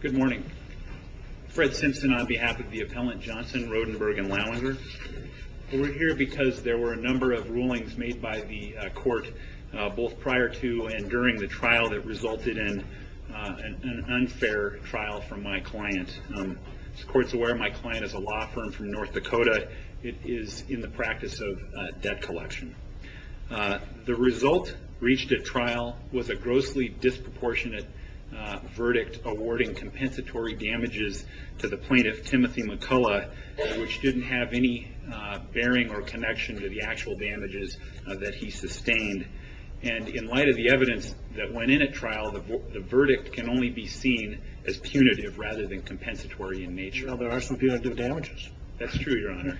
Good morning. Fred Simpson on behalf of the appellant Johnson, Rodenburg & Lauinger. We're here because there were a number of rulings made by the court both prior to and during the trial that resulted in an unfair trial from my client. As the court is aware, my client is a law firm from North Dakota. It is in the practice of debt collection. The result reached at trial was a grossly disproportionate verdict awarding compensatory damages to the plaintiff, Timothy McCullough, which didn't have any bearing or connection to the actual damages that he sustained. And in light of the evidence that went in at trial, the verdict can only be seen as punitive rather than compensatory in nature. That's true, Your Honor.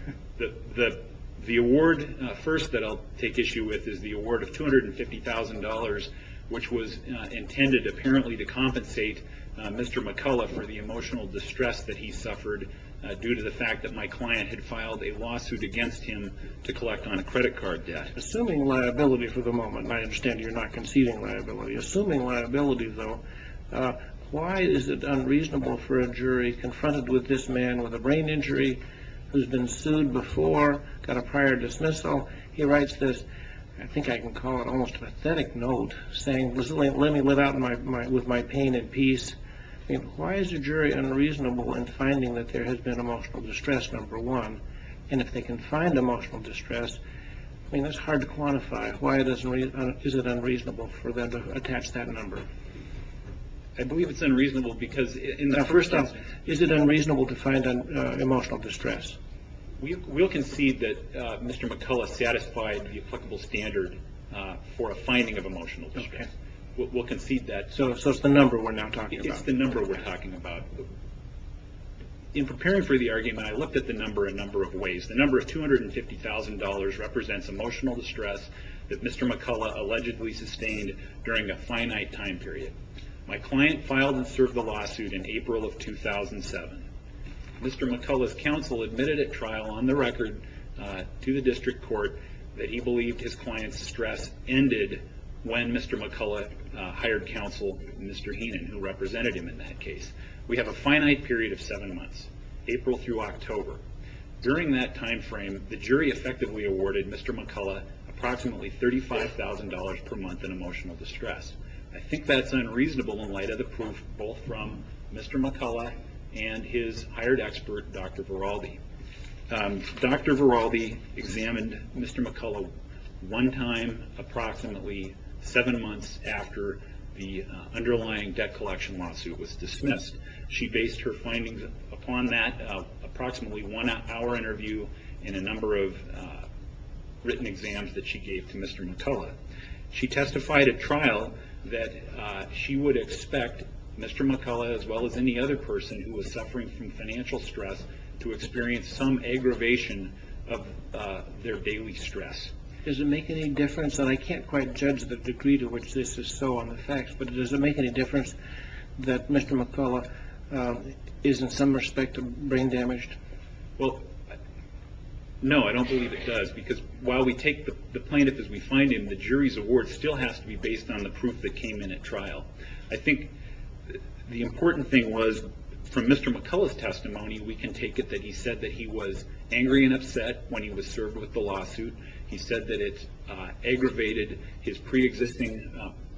The award first that I'll take issue with is the award of $250,000, which was intended apparently to compensate Mr. McCullough for the emotional distress that he suffered due to the fact that my client had filed a lawsuit against him to collect on a credit card debt. Assuming liability for the moment, I understand you're not conceding liability. Assuming liability, though, why is it unreasonable for a jury confronted with this man with a brain injury who's been sued before, got a prior dismissal? He writes this, I think I can call it almost a pathetic note, saying, let me live out with my pain in peace. Why is a jury unreasonable in finding that there has been emotional distress, number one? And if they can find emotional distress, I mean, that's hard to quantify. Why is it unreasonable for them to attach that number? I believe it's unreasonable because in the first instance... Now, first off, is it unreasonable to find emotional distress? We'll concede that Mr. McCullough satisfied the applicable standard for a finding of emotional distress. Okay. We'll concede that. So it's the number we're now talking about. It's the number we're talking about. In preparing for the argument, I looked at the number a number of ways. The number of $250,000 represents emotional distress that Mr. McCullough allegedly sustained during a finite time period. My client filed and served the lawsuit in April of 2007. Mr. McCullough's counsel admitted at trial, on the record, to the district court, that he believed his client's distress ended when Mr. McCullough hired counsel, Mr. Heenan, who represented him in that case. We have a finite period of seven months, April through October. During that time frame, the jury effectively awarded Mr. McCullough approximately $35,000 per month in emotional distress. I think that's unreasonable in light of the proof both from Mr. McCullough and his hired expert, Dr. Viraldi. Dr. Viraldi examined Mr. McCullough one time approximately seven months after the underlying debt collection lawsuit was dismissed. She based her findings upon that approximately one hour interview and a number of written exams that she gave to Mr. McCullough. She testified at trial that she would expect Mr. McCullough, as well as any other person who was suffering from financial stress, to experience some aggravation of their daily stress. Does it make any difference, and I can't quite judge the degree to which this is so on the facts, but does it make any difference that Mr. McCullough is in some respect brain damaged? No, I don't believe it does because while we take the plaintiff as we find him, the jury's award still has to be based on the proof that came in at trial. I think the important thing was from Mr. McCullough's testimony, we can take it that he said that he was angry and upset when he was served with the lawsuit. He said that it aggravated his pre-existing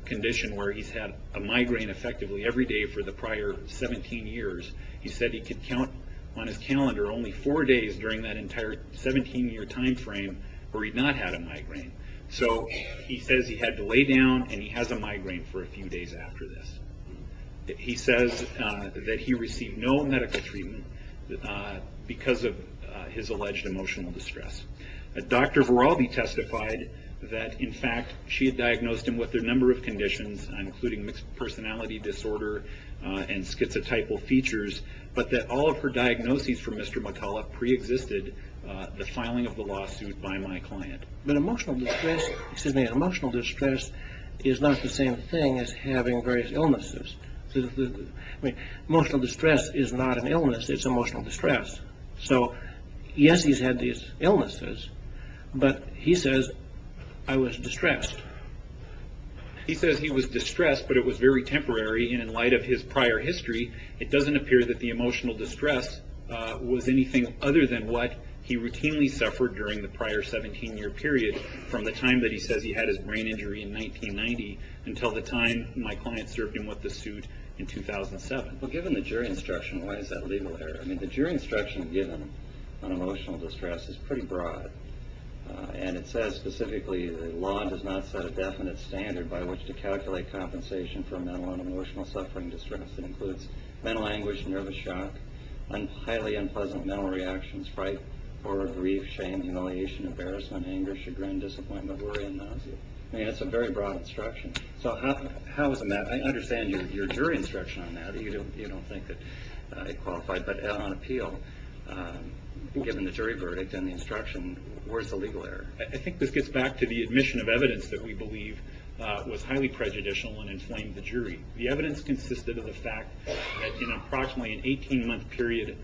condition where he's had a migraine effectively every day for the prior 17 years. He said he could count on his calendar only four days during that entire 17-year time frame where he'd not had a migraine. So he says he had to lay down and he has a migraine for a few days after this. He says that he received no medical treatment because of his alleged emotional distress. Dr. Voraldi testified that, in fact, she had diagnosed him with a number of conditions, including mixed personality disorder and schizotypal features, but that all of her diagnoses for Mr. McCullough pre-existed the filing of the lawsuit by my client. But emotional distress is not the same thing as having various illnesses. Emotional distress is not an illness, it's emotional distress. So yes, he's had these illnesses, but he says, I was distressed. He says he was distressed, but it was very temporary and in light of his prior history, it doesn't appear that the emotional distress was anything other than what he routinely suffered during the prior 17-year period from the time that he says he had his brain injury in 1990 until the time my client served him with the suit in 2007. Well, given the jury instruction, why is that legal error? I mean, the jury instruction given on emotional distress is pretty broad, and it says specifically, the law does not set a definite standard by which to calculate compensation for mental and emotional suffering distress. It includes mental anguish, nervous shock, highly unpleasant mental reactions, fright, horror, grief, shame, humiliation, embarrassment, anger, chagrin, disappointment, worry, and nausea. I mean, it's a very broad instruction. So how is that? I understand your jury instruction on that. You don't think that it qualified. But on appeal, given the jury verdict and the instruction, where's the legal error? I think this gets back to the admission of evidence that we believe was highly prejudicial and inflamed the jury. The evidence consisted of the fact that in approximately an 18-month period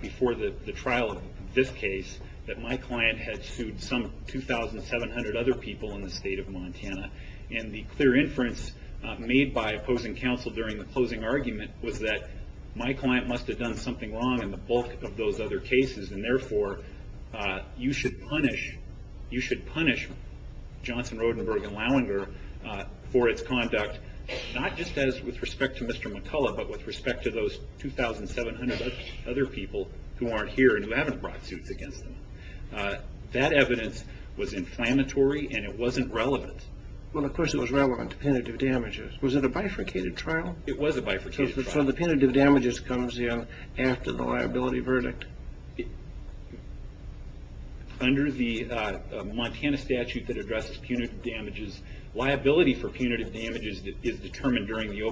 before the trial of this case, that my client had sued some 2,700 other people in the state of Montana. And the clear inference made by opposing counsel during the closing argument was that my client must have done something wrong in the bulk of those other cases, and therefore you should punish Johnson, Rodenberg, and Lallinger for its conduct, not just with respect to Mr. McCullough, but with respect to those 2,700 other people who aren't here and who haven't brought suits against them. That evidence was inflammatory, and it wasn't relevant. Well, of course it was relevant to punitive damages. Was it a bifurcated trial? It was a bifurcated trial. So the punitive damages comes in after the liability verdict? Under the Montana statute that addresses punitive damages, liability for punitive damages is determined during the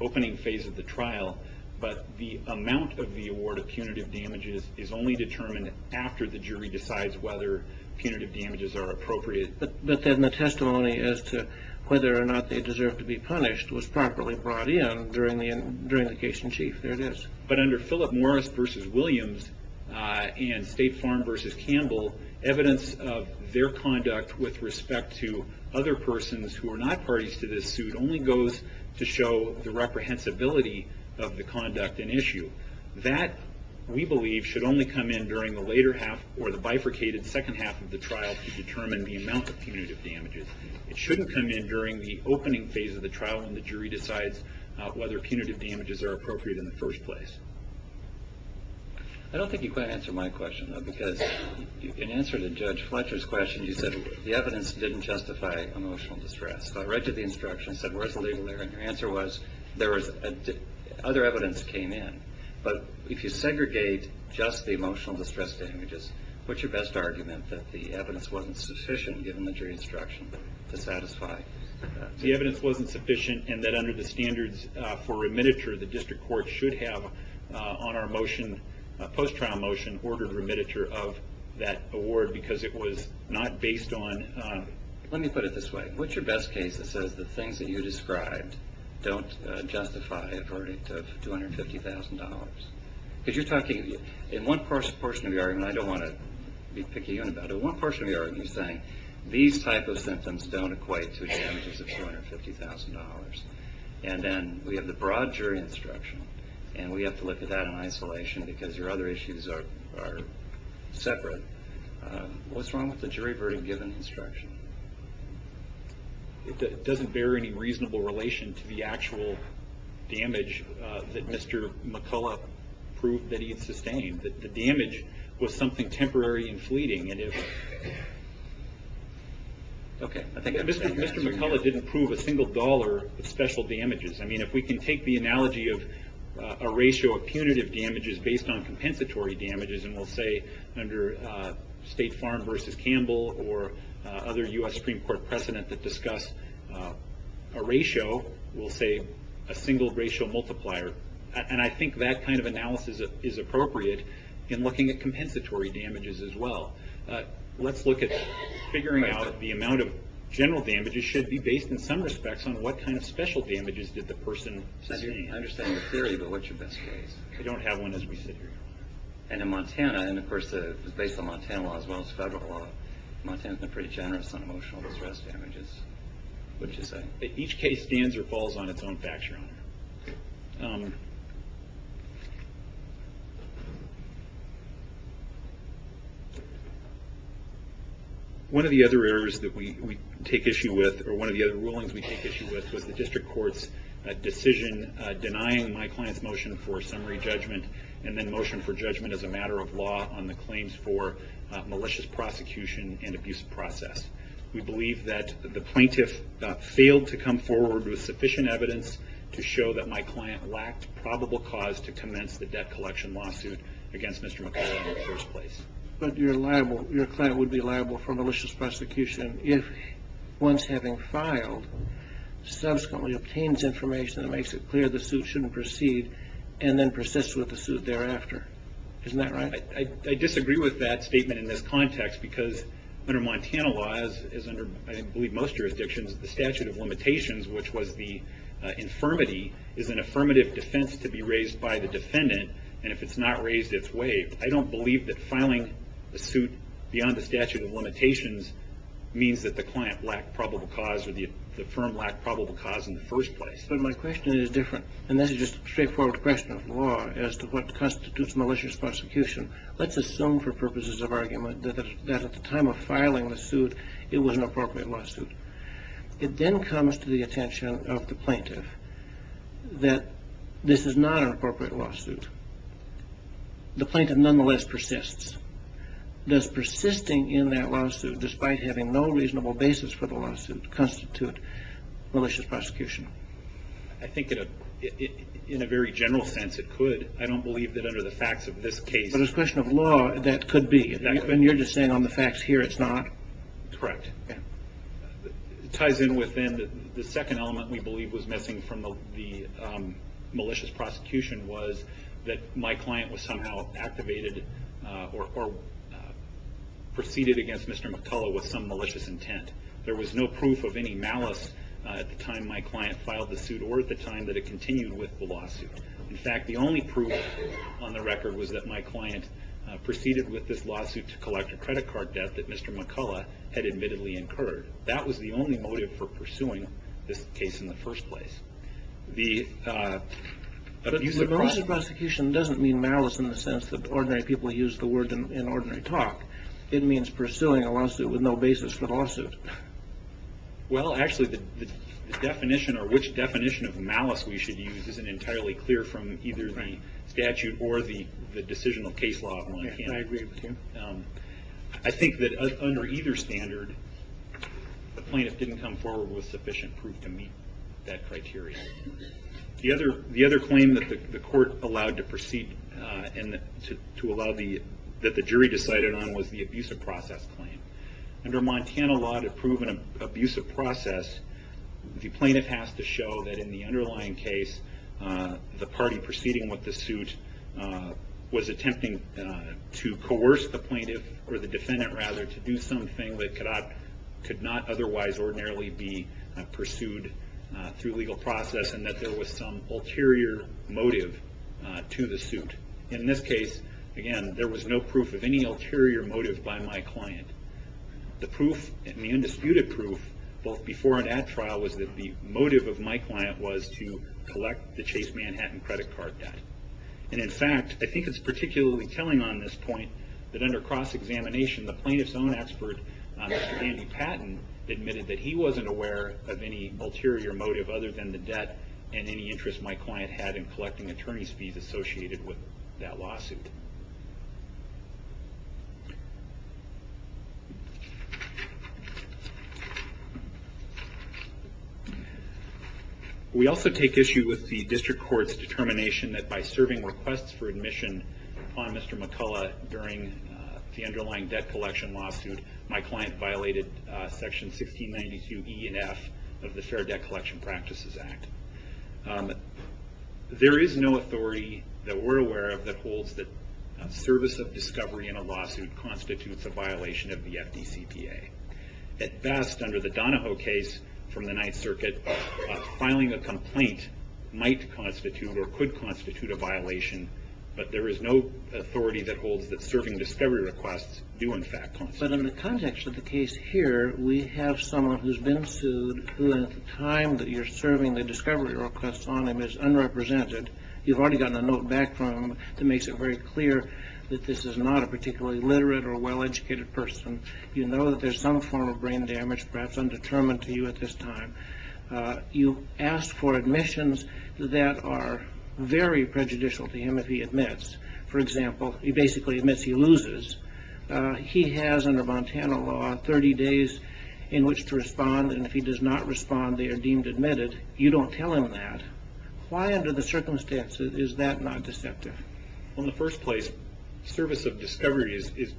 opening phase of the trial, but the amount of the award of punitive damages is only determined after the jury decides whether punitive damages are appropriate. But then the testimony as to whether or not they deserve to be punished was properly brought in during the case in chief. There it is. But under Philip Morris v. Williams and State Farm v. Campbell, evidence of their conduct with respect to other persons who are not parties to this suit only goes to show the reprehensibility of the conduct in issue. That, we believe, should only come in during the later half or the bifurcated second half of the trial to determine the amount of punitive damages. It shouldn't come in during the opening phase of the trial when the jury decides whether punitive damages are appropriate in the first place. I don't think you quite answered my question, though, because in answer to Judge Fletcher's question, you said the evidence didn't justify emotional distress. I read you the instruction and said, where's the legal error? And your answer was, other evidence came in. But if you segregate just the emotional distress damages, what's your best argument that the evidence wasn't sufficient, given the jury instruction, to satisfy? The evidence wasn't sufficient and that under the standards for remittiture, the district court should have, on our motion, post-trial motion, ordered remittiture of that award because it was not based on... Let me put it this way. What's your best case that says the things that you described don't justify a verdict of $250,000? Because you're talking... In one portion of your argument, and I don't want to be picky about it, one portion of your argument is saying these type of symptoms don't equate to damages of $250,000. And then we have the broad jury instruction, and we have to look at that in isolation because your other issues are separate. What's wrong with the jury verdict, given the instruction? It doesn't bear any reasonable relation to the actual damage that Mr. McCullough proved that he had sustained. The damage was something temporary and fleeting. Mr. McCullough didn't prove a single dollar of special damages. If we can take the analogy of a ratio of punitive damages based on compensatory damages, and we'll say under State Farm v. Campbell or other U.S. Supreme Court precedent that discuss a ratio, we'll say a single ratio multiplier. And I think that kind of analysis is appropriate in looking at compensatory damages as well. Let's look at figuring out the amount of general damages should be based, in some respects, on what kind of special damages did the person sustain. I understand your theory, but what's your best case? I don't have one as we sit here. And in Montana, and of course it's based on Montana law as well as federal law, Montana has been pretty generous on emotional distress damages. What did you say? Each case stands or falls on its own factual. One of the other errors that we take issue with, or one of the other rulings we take issue with, was the district court's decision denying my client's motion for summary judgment and then motion for judgment as a matter of law on the claims for malicious prosecution and abuse process. We believe that the plaintiff failed to come forward with sufficient evidence to show that my client lacked probable cause to commence the debt collection lawsuit against Mr. McClellan in the first place. But your client would be liable for malicious prosecution if, once having filed, subsequently obtains information that makes it clear the suit shouldn't proceed and then persists with the suit thereafter. Isn't that right? I disagree with that statement in this context because under Montana law, as under I believe most jurisdictions, the statute of limitations, which was the infirmity, is an affirmative defense to be raised by the defendant. And if it's not raised, it's waived. I don't believe that filing a suit beyond the statute of limitations means that the client lacked probable cause or the firm lacked probable cause in the first place. But my question is different, and this is just a straightforward question of law, as to what constitutes malicious prosecution. Let's assume for purposes of argument that at the time of filing the suit it was an appropriate lawsuit. It then comes to the attention of the plaintiff that this is not an appropriate lawsuit. The plaintiff nonetheless persists. Does persisting in that lawsuit, despite having no reasonable basis for the lawsuit, constitute malicious prosecution? I think in a very general sense it could. I don't believe that under the facts of this case. But as a question of law, that could be. And you're just saying on the facts here it's not? Correct. It ties in with then the second element we believe was missing from the malicious prosecution was that my client was somehow activated or proceeded against Mr. McCullough with some malicious intent. There was no proof of any malice at the time my client filed the suit or at the time that it continued with the lawsuit. In fact, the only proof on the record was that my client proceeded with this lawsuit to collect a credit card debt that Mr. McCullough had admittedly incurred. That was the only motive for pursuing this case in the first place. But malicious prosecution doesn't mean malice in the sense that ordinary people use the word in ordinary talk. It means pursuing a lawsuit with no basis for the lawsuit. Well, actually the definition or which definition of malice we should use isn't entirely clear from either the statute or the decisional case law of my client. I agree with you. I think that under either standard the plaintiff didn't come forward with sufficient proof to meet that criteria. The other claim that the court allowed to proceed and that the jury decided on was the abusive process claim. Under Montana law to prove an abusive process, the plaintiff has to show that in the underlying case the party proceeding with the suit was attempting to coerce the plaintiff or the defendant rather to do something that could not otherwise ordinarily be pursued through legal process and that there was some ulterior motive to the suit. In this case, again, there was no proof of any ulterior motive by my client. The undisputed proof both before and at trial was that the motive of my client was to collect the Chase Manhattan credit card debt. In fact, I think it's particularly telling on this point that under cross-examination the plaintiff's own expert, Mr. Andy Patton, admitted that he wasn't aware of any ulterior motive other than the debt and any interest my client had in collecting attorney's fees associated with that lawsuit. We also take issue with the district court's determination that by serving requests for admission on Mr. McCullough during the underlying debt collection lawsuit, my client violated section 1692 E and F of the Fair Debt Collection Practices Act. There is no authority that we're aware of that holds that service of discovery in a lawsuit constitutes a violation of the FDCPA. At best, under the Donahoe case from the Ninth Circuit, filing a complaint might constitute or could constitute a violation, but there is no authority that holds that serving discovery requests do in fact constitute a violation. But in the context of the case here, we have someone who's been sued who at the time that you're serving the discovery request on him is unrepresented. You've already gotten a note back from him that makes it very clear that this is not a particularly literate or well-educated person. You know that there's some form of brain damage, perhaps undetermined to you at this time. You ask for admissions that are very prejudicial to him if he admits. For example, he basically admits he loses. He has, under Montana law, 30 days in which to respond, and if he does not respond, they are deemed admitted. You don't tell him that. Why under the circumstances is that not deceptive? Well, in the first place, service of discovery is,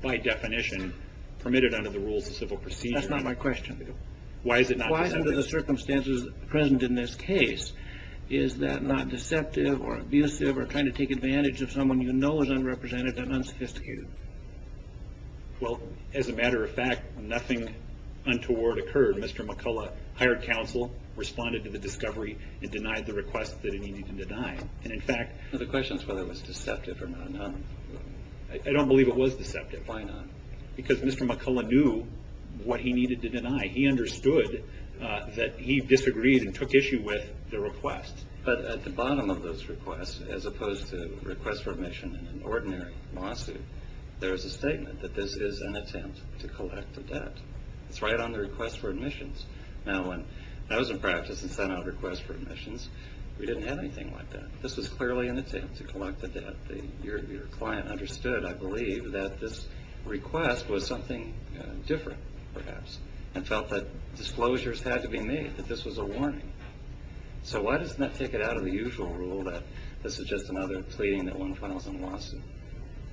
by definition, permitted under the rules of civil procedure. That's not my question. Why is it not deceptive? Why under the circumstances present in this case is that not deceptive or abusive or trying to take advantage of someone you know is unrepresented and unsophisticated? Well, as a matter of fact, nothing untoward occurred. Mr. McCullough hired counsel, responded to the discovery, and denied the request that he needed to deny. The question is whether it was deceptive or not. I don't believe it was deceptive. Why not? Because Mr. McCullough knew what he needed to deny. He understood that he disagreed and took issue with the request. But at the bottom of those requests, as opposed to requests for admission in an ordinary lawsuit, there is a statement that this is an attempt to collect the debt. It's right on the request for admissions. Now, when I was in practice and sent out a request for admissions, we didn't have anything like that. This was clearly an attempt to collect the debt. Your client understood, I believe, that this request was something different, perhaps, and felt that disclosures had to be made, that this was a warning. So why doesn't that take it out of the usual rule that this is just another pleading that one files in a lawsuit?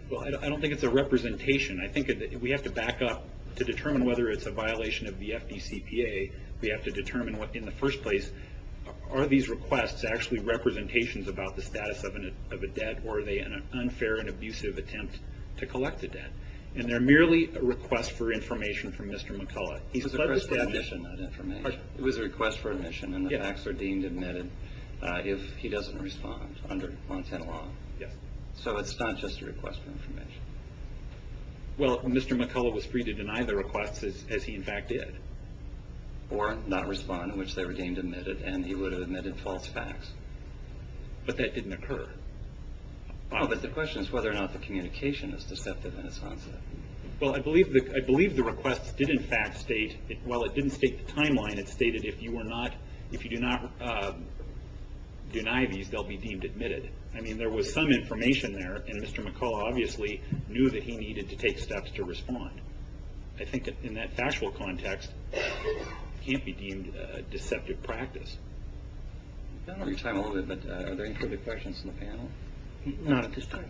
Well, I don't think it's a representation. I think we have to back up to determine whether it's a violation of the FDCPA. We have to determine, in the first place, are these requests actually representations about the status of a debt, or are they an unfair and abusive attempt to collect the debt? And they're merely a request for information from Mr. McCullough. It was a request for admission, not information. It was a request for admission, and the facts are deemed and admitted if he doesn't respond under 110 law. So it's not just a request for information? Well, Mr. McCullough was free to deny the requests, as he, in fact, did. Or not respond, in which they were deemed admitted, and he would have admitted false facts. But that didn't occur. Oh, but the question is whether or not the communication is deceptive in its concept. Well, I believe the requests did, in fact, state, while it didn't state the timeline, it stated if you do not deny these, they'll be deemed admitted. I mean, there was some information there, and Mr. McCullough obviously knew that he needed to take steps to respond. I think that, in that factual context, it can't be deemed a deceptive practice. I don't have your time a little bit, but are there any further questions from the panel? Not at this time.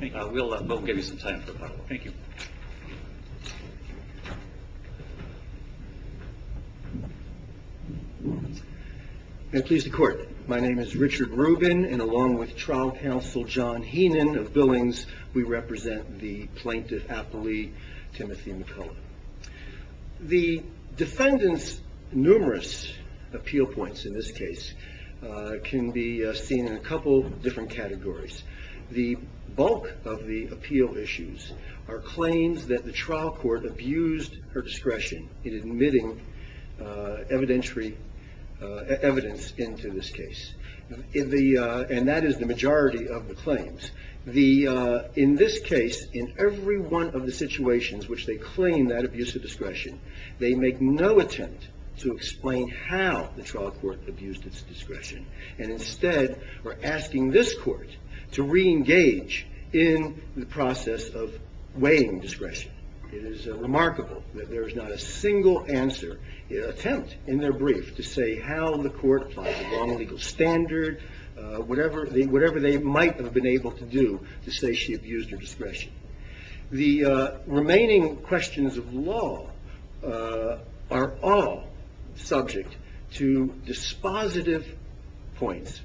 We'll give you some time for a couple. Thank you. May it please the Court. My name is Richard Rubin, and along with trial counsel John Heenan of Billings, we represent the plaintiff, Apolli Timothy McCullough. The defendant's numerous appeal points, in this case, can be seen in a couple different categories. The bulk of the appeal issues are claims that the trial court abused her discretion in admitting evidence into this case, and that is the majority of the claims. In this case, in every one of the situations which they claim that abuse of discretion, they make no attempt to explain how the trial court abused its discretion and instead are asking this court to reengage in the process of weighing discretion. It is remarkable that there is not a single attempt in their brief to say how the court applied the wrong legal standard, whatever they might have been able to do to say she abused her discretion. The remaining questions of law are all subject to dispositive points,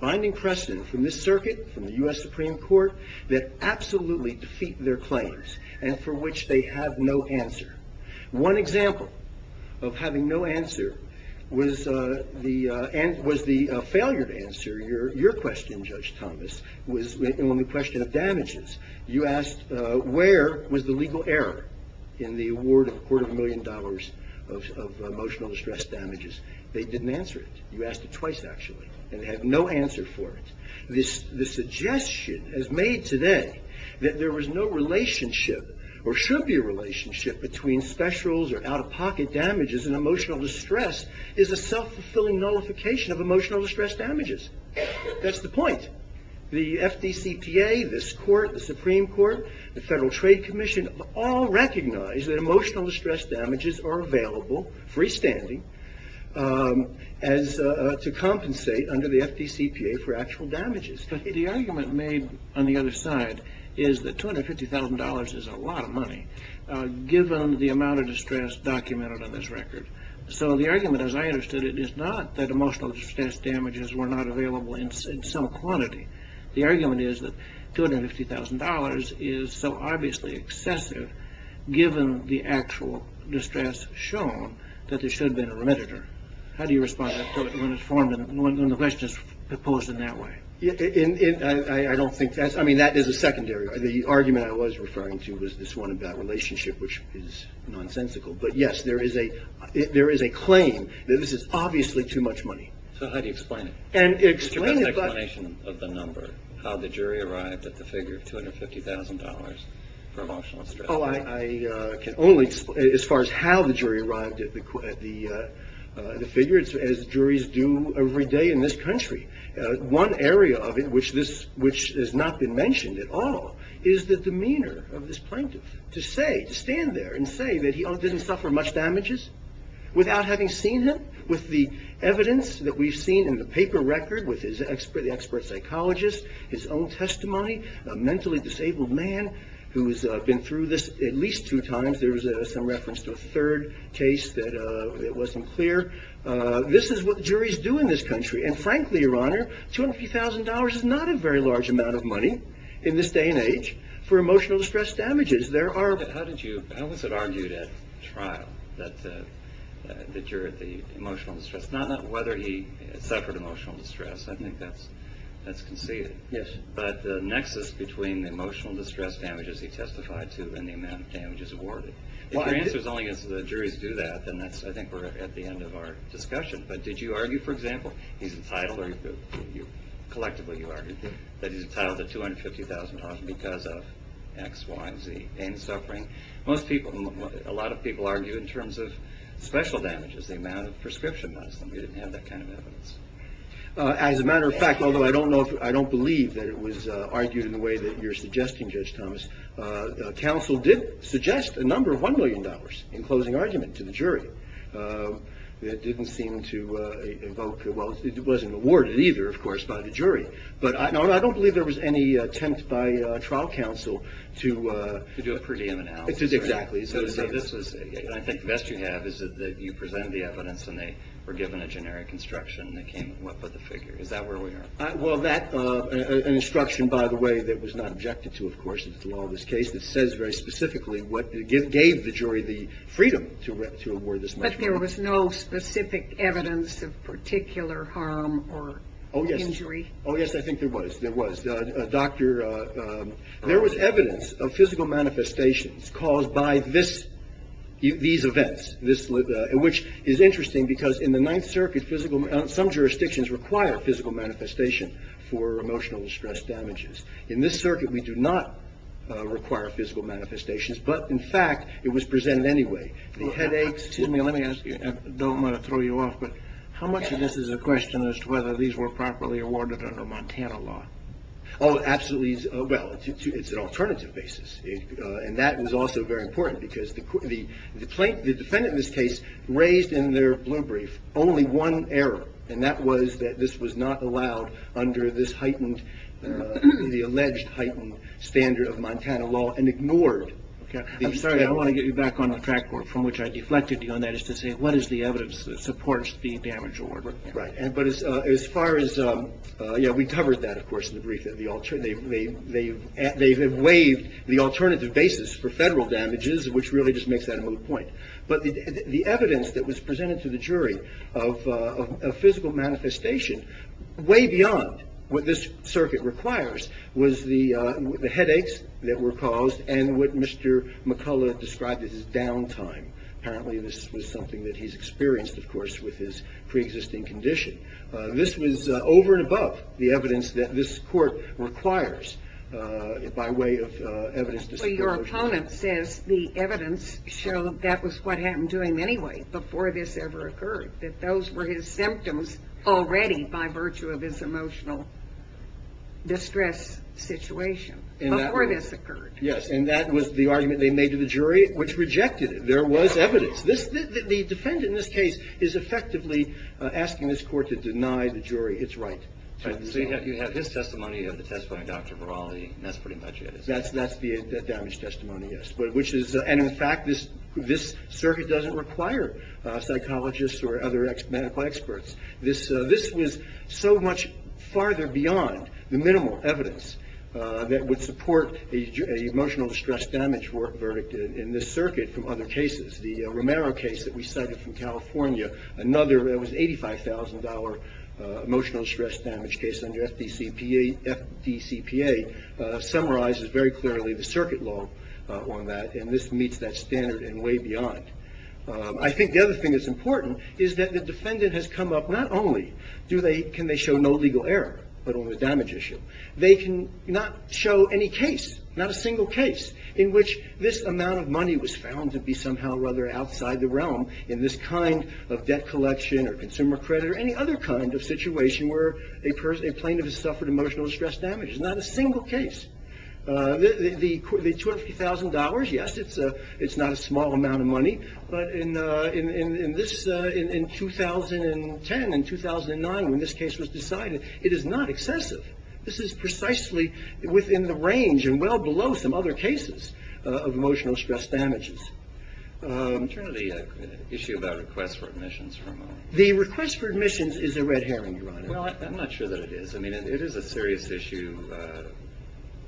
binding precedent from this circuit, from the U.S. Supreme Court, that absolutely defeat their claims and for which they have no answer. One example of having no answer was the failure to answer your question, Judge Thomas, on the question of damages. You asked where was the legal error in the award of a quarter of a million dollars of emotional distress damages. They didn't answer it. You asked it twice, actually, and they have no answer for it. The suggestion as made today that there was no relationship or should be a relationship between specials or out-of-pocket damages and emotional distress is a self-fulfilling nullification of emotional distress damages. That's the point. The FDCPA, this court, the Supreme Court, the Federal Trade Commission, all recognize that emotional distress damages are available freestanding to compensate under the FDCPA for actual damages. The argument made on the other side is that $250,000 is a lot of money given the amount of distress documented on this record. So the argument, as I understood it, is not that emotional distress damages were not available in some quantity. The argument is that $250,000 is so obviously excessive given the actual distress shown that there should have been a remediator. How do you respond when the question is posed in that way? I mean, that is a secondary. The argument I was referring to was this one about relationship, which is nonsensical. But, yes, there is a claim that this is obviously too much money. So how do you explain it? Give us an explanation of the number, how the jury arrived at the figure of $250,000 for emotional distress. I can only, as far as how the jury arrived at the figure, as juries do every day in this country, one area of it which has not been mentioned at all is the demeanor of this plaintiff to stand there and say that he didn't suffer much damages without having seen him, with the evidence that we've seen in the paper record with the expert psychologist, his own testimony, a mentally disabled man who's been through this at least two times. There was some reference to a third case that wasn't clear. This is what juries do in this country. And frankly, Your Honor, $250,000 is not a very large amount of money in this day and age for emotional distress damages. How was it argued at trial that the jury, the emotional distress, not whether he suffered emotional distress, I think that's conceded, but the nexus between the emotional distress damages he testified to and the amount of damages awarded. If your answer is only as the juries do that, then I think we're at the end of our discussion. But did you argue, for example, that he's entitled to $250,000 because of X, Y, and Z pain and suffering? Most people, a lot of people argue in terms of special damages, the amount of prescription medicine. We didn't have that kind of evidence. As a matter of fact, although I don't believe that it was argued in the way that you're suggesting, Judge Thomas, counsel did suggest a number of $1 million in closing argument to the jury. It didn't seem to evoke, well, it wasn't awarded either, of course, by the jury. But I don't believe there was any attempt by trial counsel to... To do a per diem analysis, right? Exactly. And I think the best you have is that you presented the evidence and they were given a generic instruction that came with the figure. Is that where we are? Well, that, an instruction, by the way, that was not objected to, of course, in the law of this case that says very specifically what gave the jury the freedom to award this much money. But there was no specific evidence of particular harm or injury? Oh, yes. Oh, yes, I think there was. There was. Doctor, there was evidence of physical manifestations caused by these events, which is interesting because in the Ninth Circuit, some jurisdictions require physical manifestation for emotional distress damages. In this circuit, we do not require physical manifestations, but, in fact, it was presented anyway. The headaches... Excuse me, let me ask you. I don't want to throw you off, but how much of this is a question as to whether these were properly awarded under Montana law? Oh, absolutely. Well, it's an alternative basis, and that was also very important because the defendant in this case raised in their blue brief only one error, and that was that this was not allowed under this heightened... I'm sorry. I want to get you back on the track from which I deflected you on that is to say what is the evidence that supports the damage award? Right, but as far as... Yeah, we covered that, of course, in the brief. They have waived the alternative basis for federal damages, which really just makes that a moot point. But the evidence that was presented to the jury of physical manifestation, way beyond what this circuit requires, was the headaches that were caused and what Mr. McCullough described as his downtime. Apparently this was something that he's experienced, of course, with his preexisting condition. This was over and above the evidence that this court requires by way of evidence... So your opponent says the evidence showed that was what had him doing anyway before this ever occurred, that those were his symptoms already by virtue of his emotional distress situation before this occurred. Yes, and that was the argument they made to the jury, which rejected it. There was evidence. The defendant in this case is effectively asking this court to deny the jury its right. So you have his testimony, you have the testimony of Dr. Virali, and that's pretty much it. That's the damage testimony, yes. And in fact, this circuit doesn't require psychologists or other medical experts. This was so much farther beyond the minimal evidence that would support an emotional distress damage verdict in this circuit from other cases. The Romero case that we cited from California, another $85,000 emotional distress damage case under FDCPA, summarizes very clearly the circuit law on that, and this meets that standard and way beyond. I think the other thing that's important is that the defendant has come up, not only can they show no legal error, but on the damage issue, they can not show any case, not a single case, in which this amount of money was found to be somehow or other outside the realm in this kind of debt collection or consumer credit or any other kind of situation where a plaintiff has suffered emotional distress damage. Not a single case. The $250,000, yes, it's not a small amount of money, but in 2010 and 2009 when this case was decided, it is not excessive. This is precisely within the range and well below some other cases of emotional stress damages. I'm trying to get an issue about requests for admissions for a moment. The request for admissions is a red herring, Your Honor. Well, I'm not sure that it is. I mean, it is a serious issue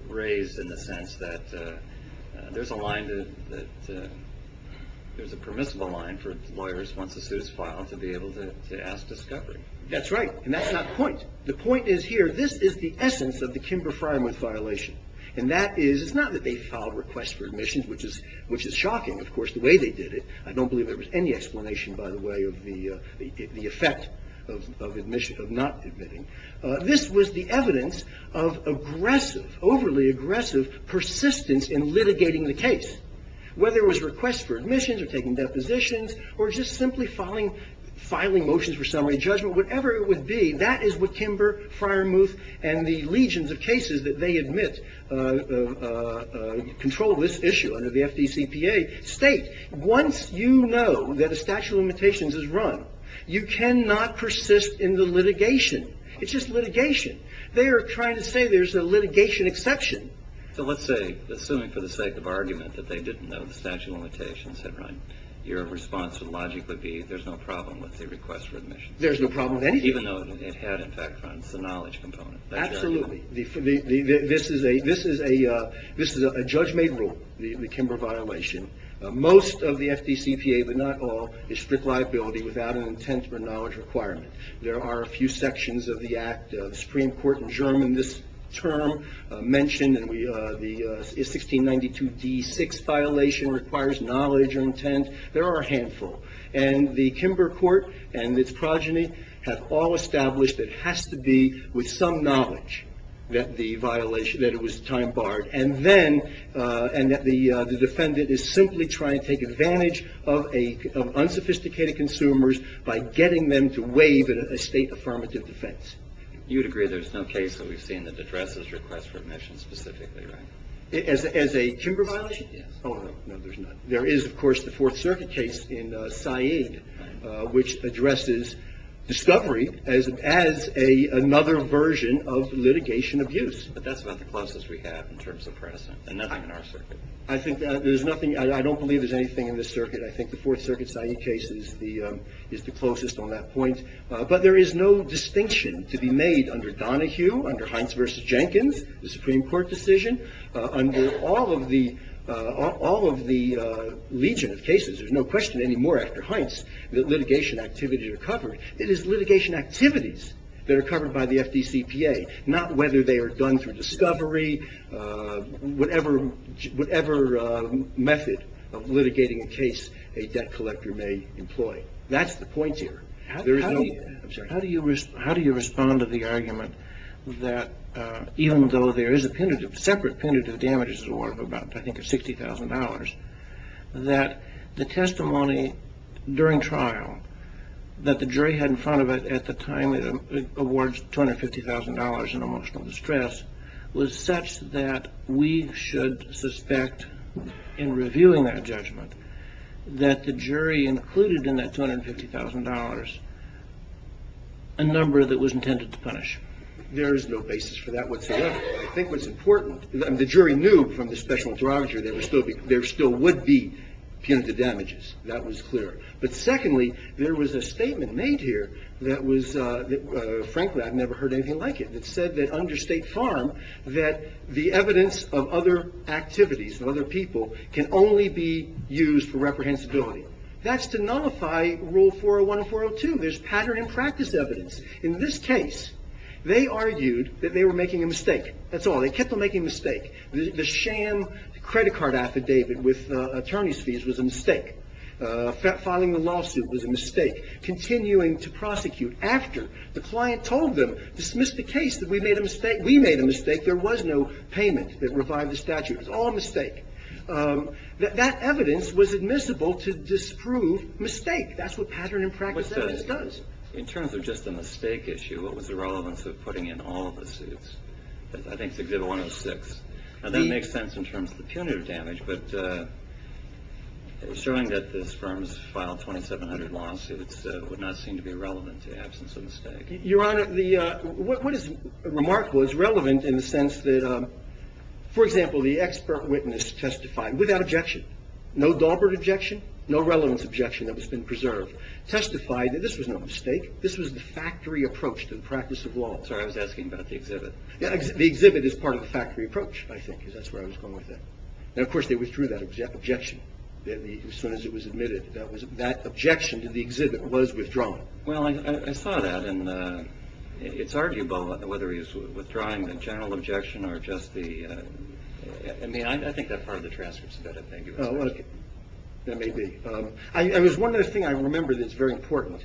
raised in the sense that there's a line, there's a permissible line for lawyers once a suit is filed to be able to ask discovery. That's right, and that's not the point. The point is here, this is the essence of the Kimber Frymouth violation, and that is, it's not that they filed requests for admissions, which is shocking, of course, the way they did it. I don't believe there was any explanation, by the way, of the effect of not admitting. This was the evidence of aggressive, overly aggressive persistence in litigating the case. Whether it was requests for admissions or taking depositions or just simply filing motions for summary judgment, whatever it would be, that is what Kimber Frymouth and the legions of cases that they admit control of this issue under the FDCPA state. Once you know that a statute of limitations is run, you cannot persist in the litigation. It's just litigation. They are trying to say there's a litigation exception. So let's say, assuming for the sake of argument that they didn't know the statute of limitations had run, your response would logically be there's no problem with the request for admission. There's no problem with anything. Even though it had, in fact, the knowledge component. Absolutely. This is a judge-made rule, the Kimber violation. Most of the FDCPA, but not all, is strict liability without an intent or knowledge requirement. There are a few sections of the act. The Supreme Court in German this term mentioned the 1692 D6 violation requires knowledge or intent. There are a handful. And the Kimber court and its progeny have all established it has to be with some knowledge that the violation, that it was time barred. And then the defendant is simply trying to take advantage of unsophisticated consumers by getting them to waive a state affirmative defense. You would agree there's no case that we've seen that addresses requests for admission specifically, right? As a Kimber violation? Yes. Oh, no, there's none. There is, of course, the Fourth Circuit case in Said, which addresses discovery as another version of litigation abuse. But that's about the closest we have in terms of precedent. And nothing in our circuit. I think there's nothing. I don't believe there's anything in this circuit. I think the Fourth Circuit Said case is the closest on that point. But there is no distinction to be made under Donohue, under Heintz v. Jenkins, the Supreme Court decision. Under all of the legion of cases, there's no question anymore after Heintz that litigation activities are covered. It is litigation activities that are covered by the FDCPA, not whether they are done through discovery, whatever method of litigating a case a debt collector may employ. That's the point here. How do you respond to the argument that even though there is a separate pentative damages award of about, I think, $60,000, that the testimony during trial that the jury had in front of it at the time it awards $250,000 in emotional distress was such that we should suspect in reviewing that judgment that the jury included in that $250,000 a number that was intended to punish? There is no basis for that whatsoever. I think what's important, the jury knew from the special interrogator there still would be pentative damages. That was clear. But secondly, there was a statement made here that was, frankly, I've never heard anything like it. It said that under State Farm that the evidence of other activities of other people can only be used for reprehensibility. That's to nullify Rule 401 and 402. There's pattern and practice evidence. In this case, they argued that they were making a mistake. That's all. They kept on making a mistake. The sham credit card affidavit with attorney's fees was a mistake. Filing the lawsuit was a mistake. Continuing to prosecute after the client told them, dismiss the case, that we made a mistake. We made a mistake. There was no payment that revived the statute. It was all a mistake. That evidence was admissible to disprove mistake. That's what pattern and practice evidence does. In terms of just a mistake issue, what was the relevance of putting in all of the suits? I think it's Exhibit 106. That makes sense in terms of the punitive damage, but assuring that this firm has filed 2,700 lawsuits would not seem to be relevant to the absence of a mistake. Your Honor, what is remarkable is relevant in the sense that, for example, the expert witness testified without objection. No Daubert objection. No relevance objection that has been preserved. Testified that this was no mistake. This was the factory approach to the practice of law. Sorry, I was asking about the exhibit. The exhibit is part of the factory approach, I think. That's where I was going with that. Of course, they withdrew that objection as soon as it was admitted. That objection to the exhibit was withdrawn. I saw that. It's arguable whether he's withdrawing the general objection or just the... I think that part of the transcript is a better thing. That may be. There's one other thing I remember that's very important.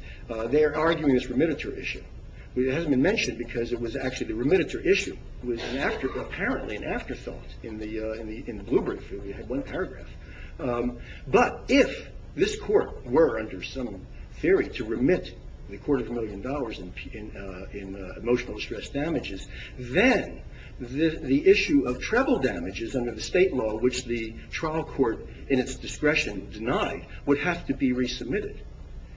They're arguing this remittiture issue. It hasn't been mentioned because it was actually the remittiture issue. It was apparently an afterthought in the Bloomberg field. It had one paragraph. But if this court were, under some theory, to remit the quarter of a million dollars in emotional stress damages, then the issue of treble damages under the state law, which the trial court, in its discretion, denied, would have to be resubmitted.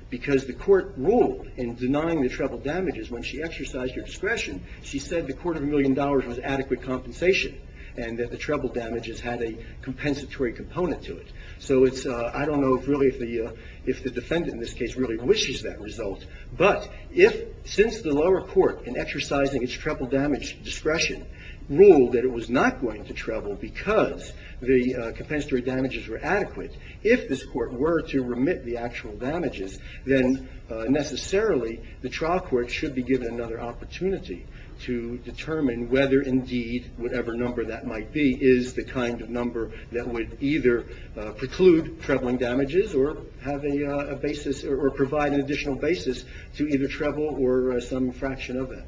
Because the court ruled in denying the treble damages, when she exercised her discretion, she said the quarter of a million dollars was adequate compensation and that the treble damages had a compensatory component to it. I don't know, really, if the defendant, in this case, really wishes that result. But since the lower court, in exercising its treble damage discretion, ruled that it was not going to treble because the compensatory damages were adequate, if this court were to remit the actual damages, then necessarily the trial court should be given another opportunity to determine whether, indeed, whatever number that might be, is the kind of number that would either preclude trebling damages or provide an additional basis to either treble or some fraction of it.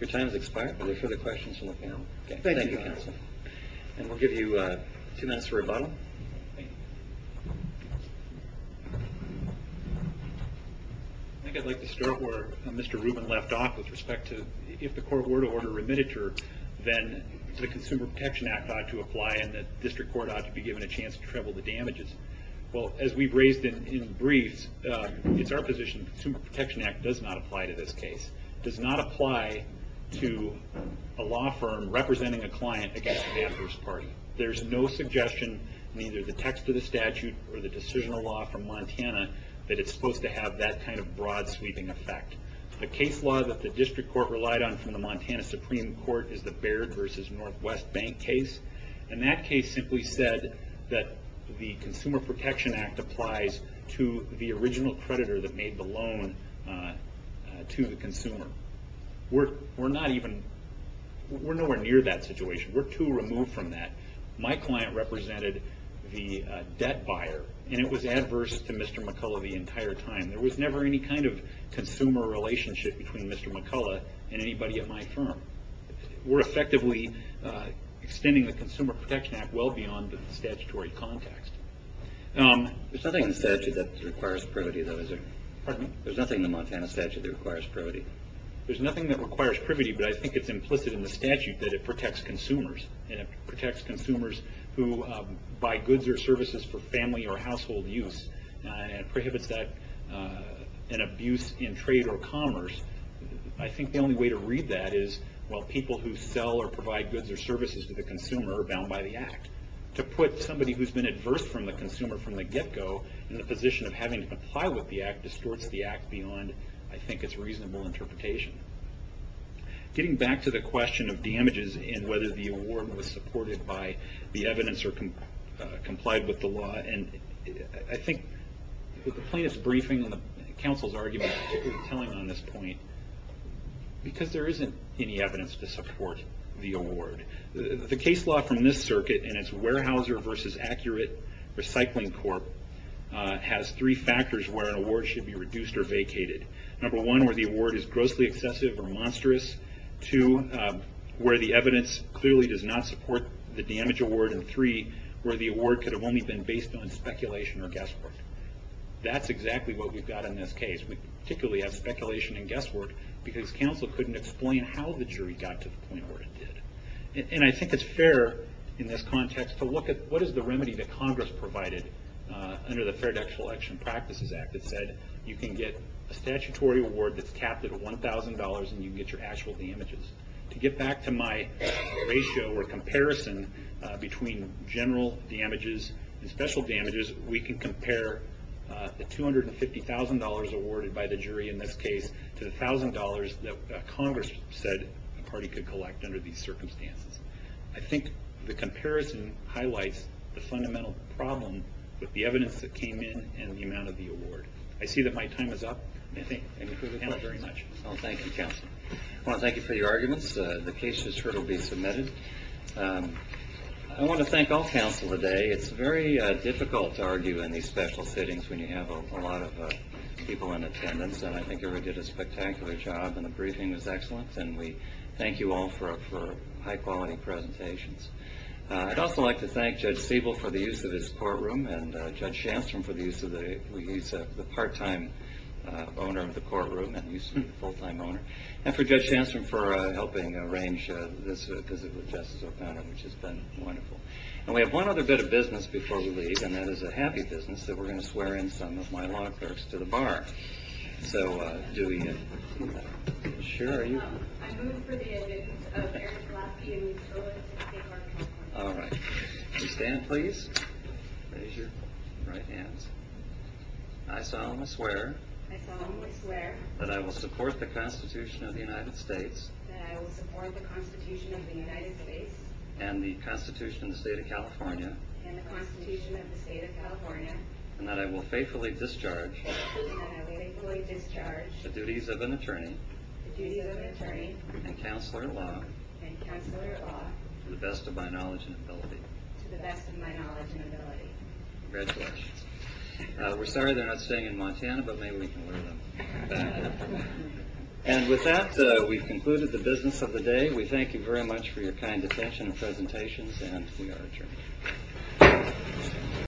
Your time has expired. Are there further questions from the panel? Thank you, counsel. And we'll give you two minutes for rebuttal. I think I'd like to start where Mr. Rubin left off with respect to if the court were to order a remitter, then the Consumer Protection Act ought to apply and the district court ought to be given a chance to treble the damages. Well, as we've raised in briefs, it's our position the Consumer Protection Act does not apply to this case. It does not apply to a law firm representing a client against an adverse party. There's no suggestion in either the text of the statute or the decisional law from Montana that it's supposed to have that kind of broad sweeping effect. The case law that the district court relied on from the Montana Supreme Court is the Baird versus Northwest Bank case. And that case simply said that the Consumer Protection Act applies to the original creditor that made the loan to the consumer. We're not even, we're nowhere near that situation. We're too removed from that. My client represented the debt buyer and it was adverse to Mr. McCullough the entire time. There was never any kind of consumer relationship between Mr. McCullough and anybody at my firm. We're effectively extending the Consumer Protection Act well beyond the statutory context. There's nothing in the statute that requires privity though, is there? Pardon me? There's nothing in the Montana statute that requires privity. There's nothing that requires privity, but I think it's implicit in the statute that it protects consumers. And it protects consumers who buy goods or services for family or household use. And it prohibits an abuse in trade or commerce. I think the only way to read that is, well people who sell or provide goods or services to the consumer are bound by the act. To put somebody who's been adverse from the consumer from the get-go in the position of having to comply with the act distorts the act beyond, I think, its reasonable interpretation. Getting back to the question of damages and whether the award was supported by the evidence or complied with the law, and I think with the plaintiff's briefing and the counsel's argument particularly telling on this point, because there isn't any evidence to support the award. The case law from this circuit, and it's Weyerhaeuser v. Accurate Recycling Corp., has three factors where an award should be reduced or vacated. Number one, where the award is grossly excessive or monstrous. Two, where the evidence clearly does not support the damage award. And three, where the award could have only been based on speculation or guesswork. That's exactly what we've got in this case. We particularly have speculation and guesswork because counsel couldn't explain how the jury got to the point where it did. And I think it's fair, in this context, to look at what is the remedy that Congress provided under the Fair Actual Action Practices Act that said you can get a statutory award that's capped at $1,000 and you can get your actual damages. To get back to my ratio or comparison between general damages and special damages, we can compare the $250,000 awarded by the jury in this case to the $1,000 that Congress said a party could collect under these circumstances. I think the comparison highlights the fundamental problem with the evidence that came in and the amount of the award. I see that my time is up. Thank you for the panel very much. Thank you, counsel. I want to thank you for your arguments. The case that's heard will be submitted. I want to thank all counsel today. It's very difficult to argue in these special sittings when you have a lot of people in attendance and I think everybody did a spectacular job and the briefing was excellent. We thank you all for high-quality presentations. I'd also like to thank Judge Siebel for the use of his courtroom and Judge Shanstrom for the use of the part-time owner of the courtroom and the use of the full-time owner. And for Judge Shanstrom for helping arrange this visit with Justice O'Connor, which has been wonderful. We have one other bit of business before we leave and that is a happy business that we're going to swear in some of my law clerks to the bar. So, do we get to that? Sure. I move for the admittance of Eric Gillespie in lieu of the State Court of California. All right. Will you stand, please? Raise your right hand. I solemnly swear I solemnly swear that I will support the Constitution of the United States that I will support the Constitution of the United States and the Constitution of the State of California and the Constitution of the State of California and that I will faithfully discharge that I will faithfully discharge the duties of an attorney the duties of an attorney and counselor at law and counselor at law to the best of my knowledge and ability to the best of my knowledge and ability. Congratulations. We're sorry they're not staying in Montana, but maybe we can lure them. And with that, we've concluded the business of the day. We thank you very much for your kind attention and presentations and we are adjourned.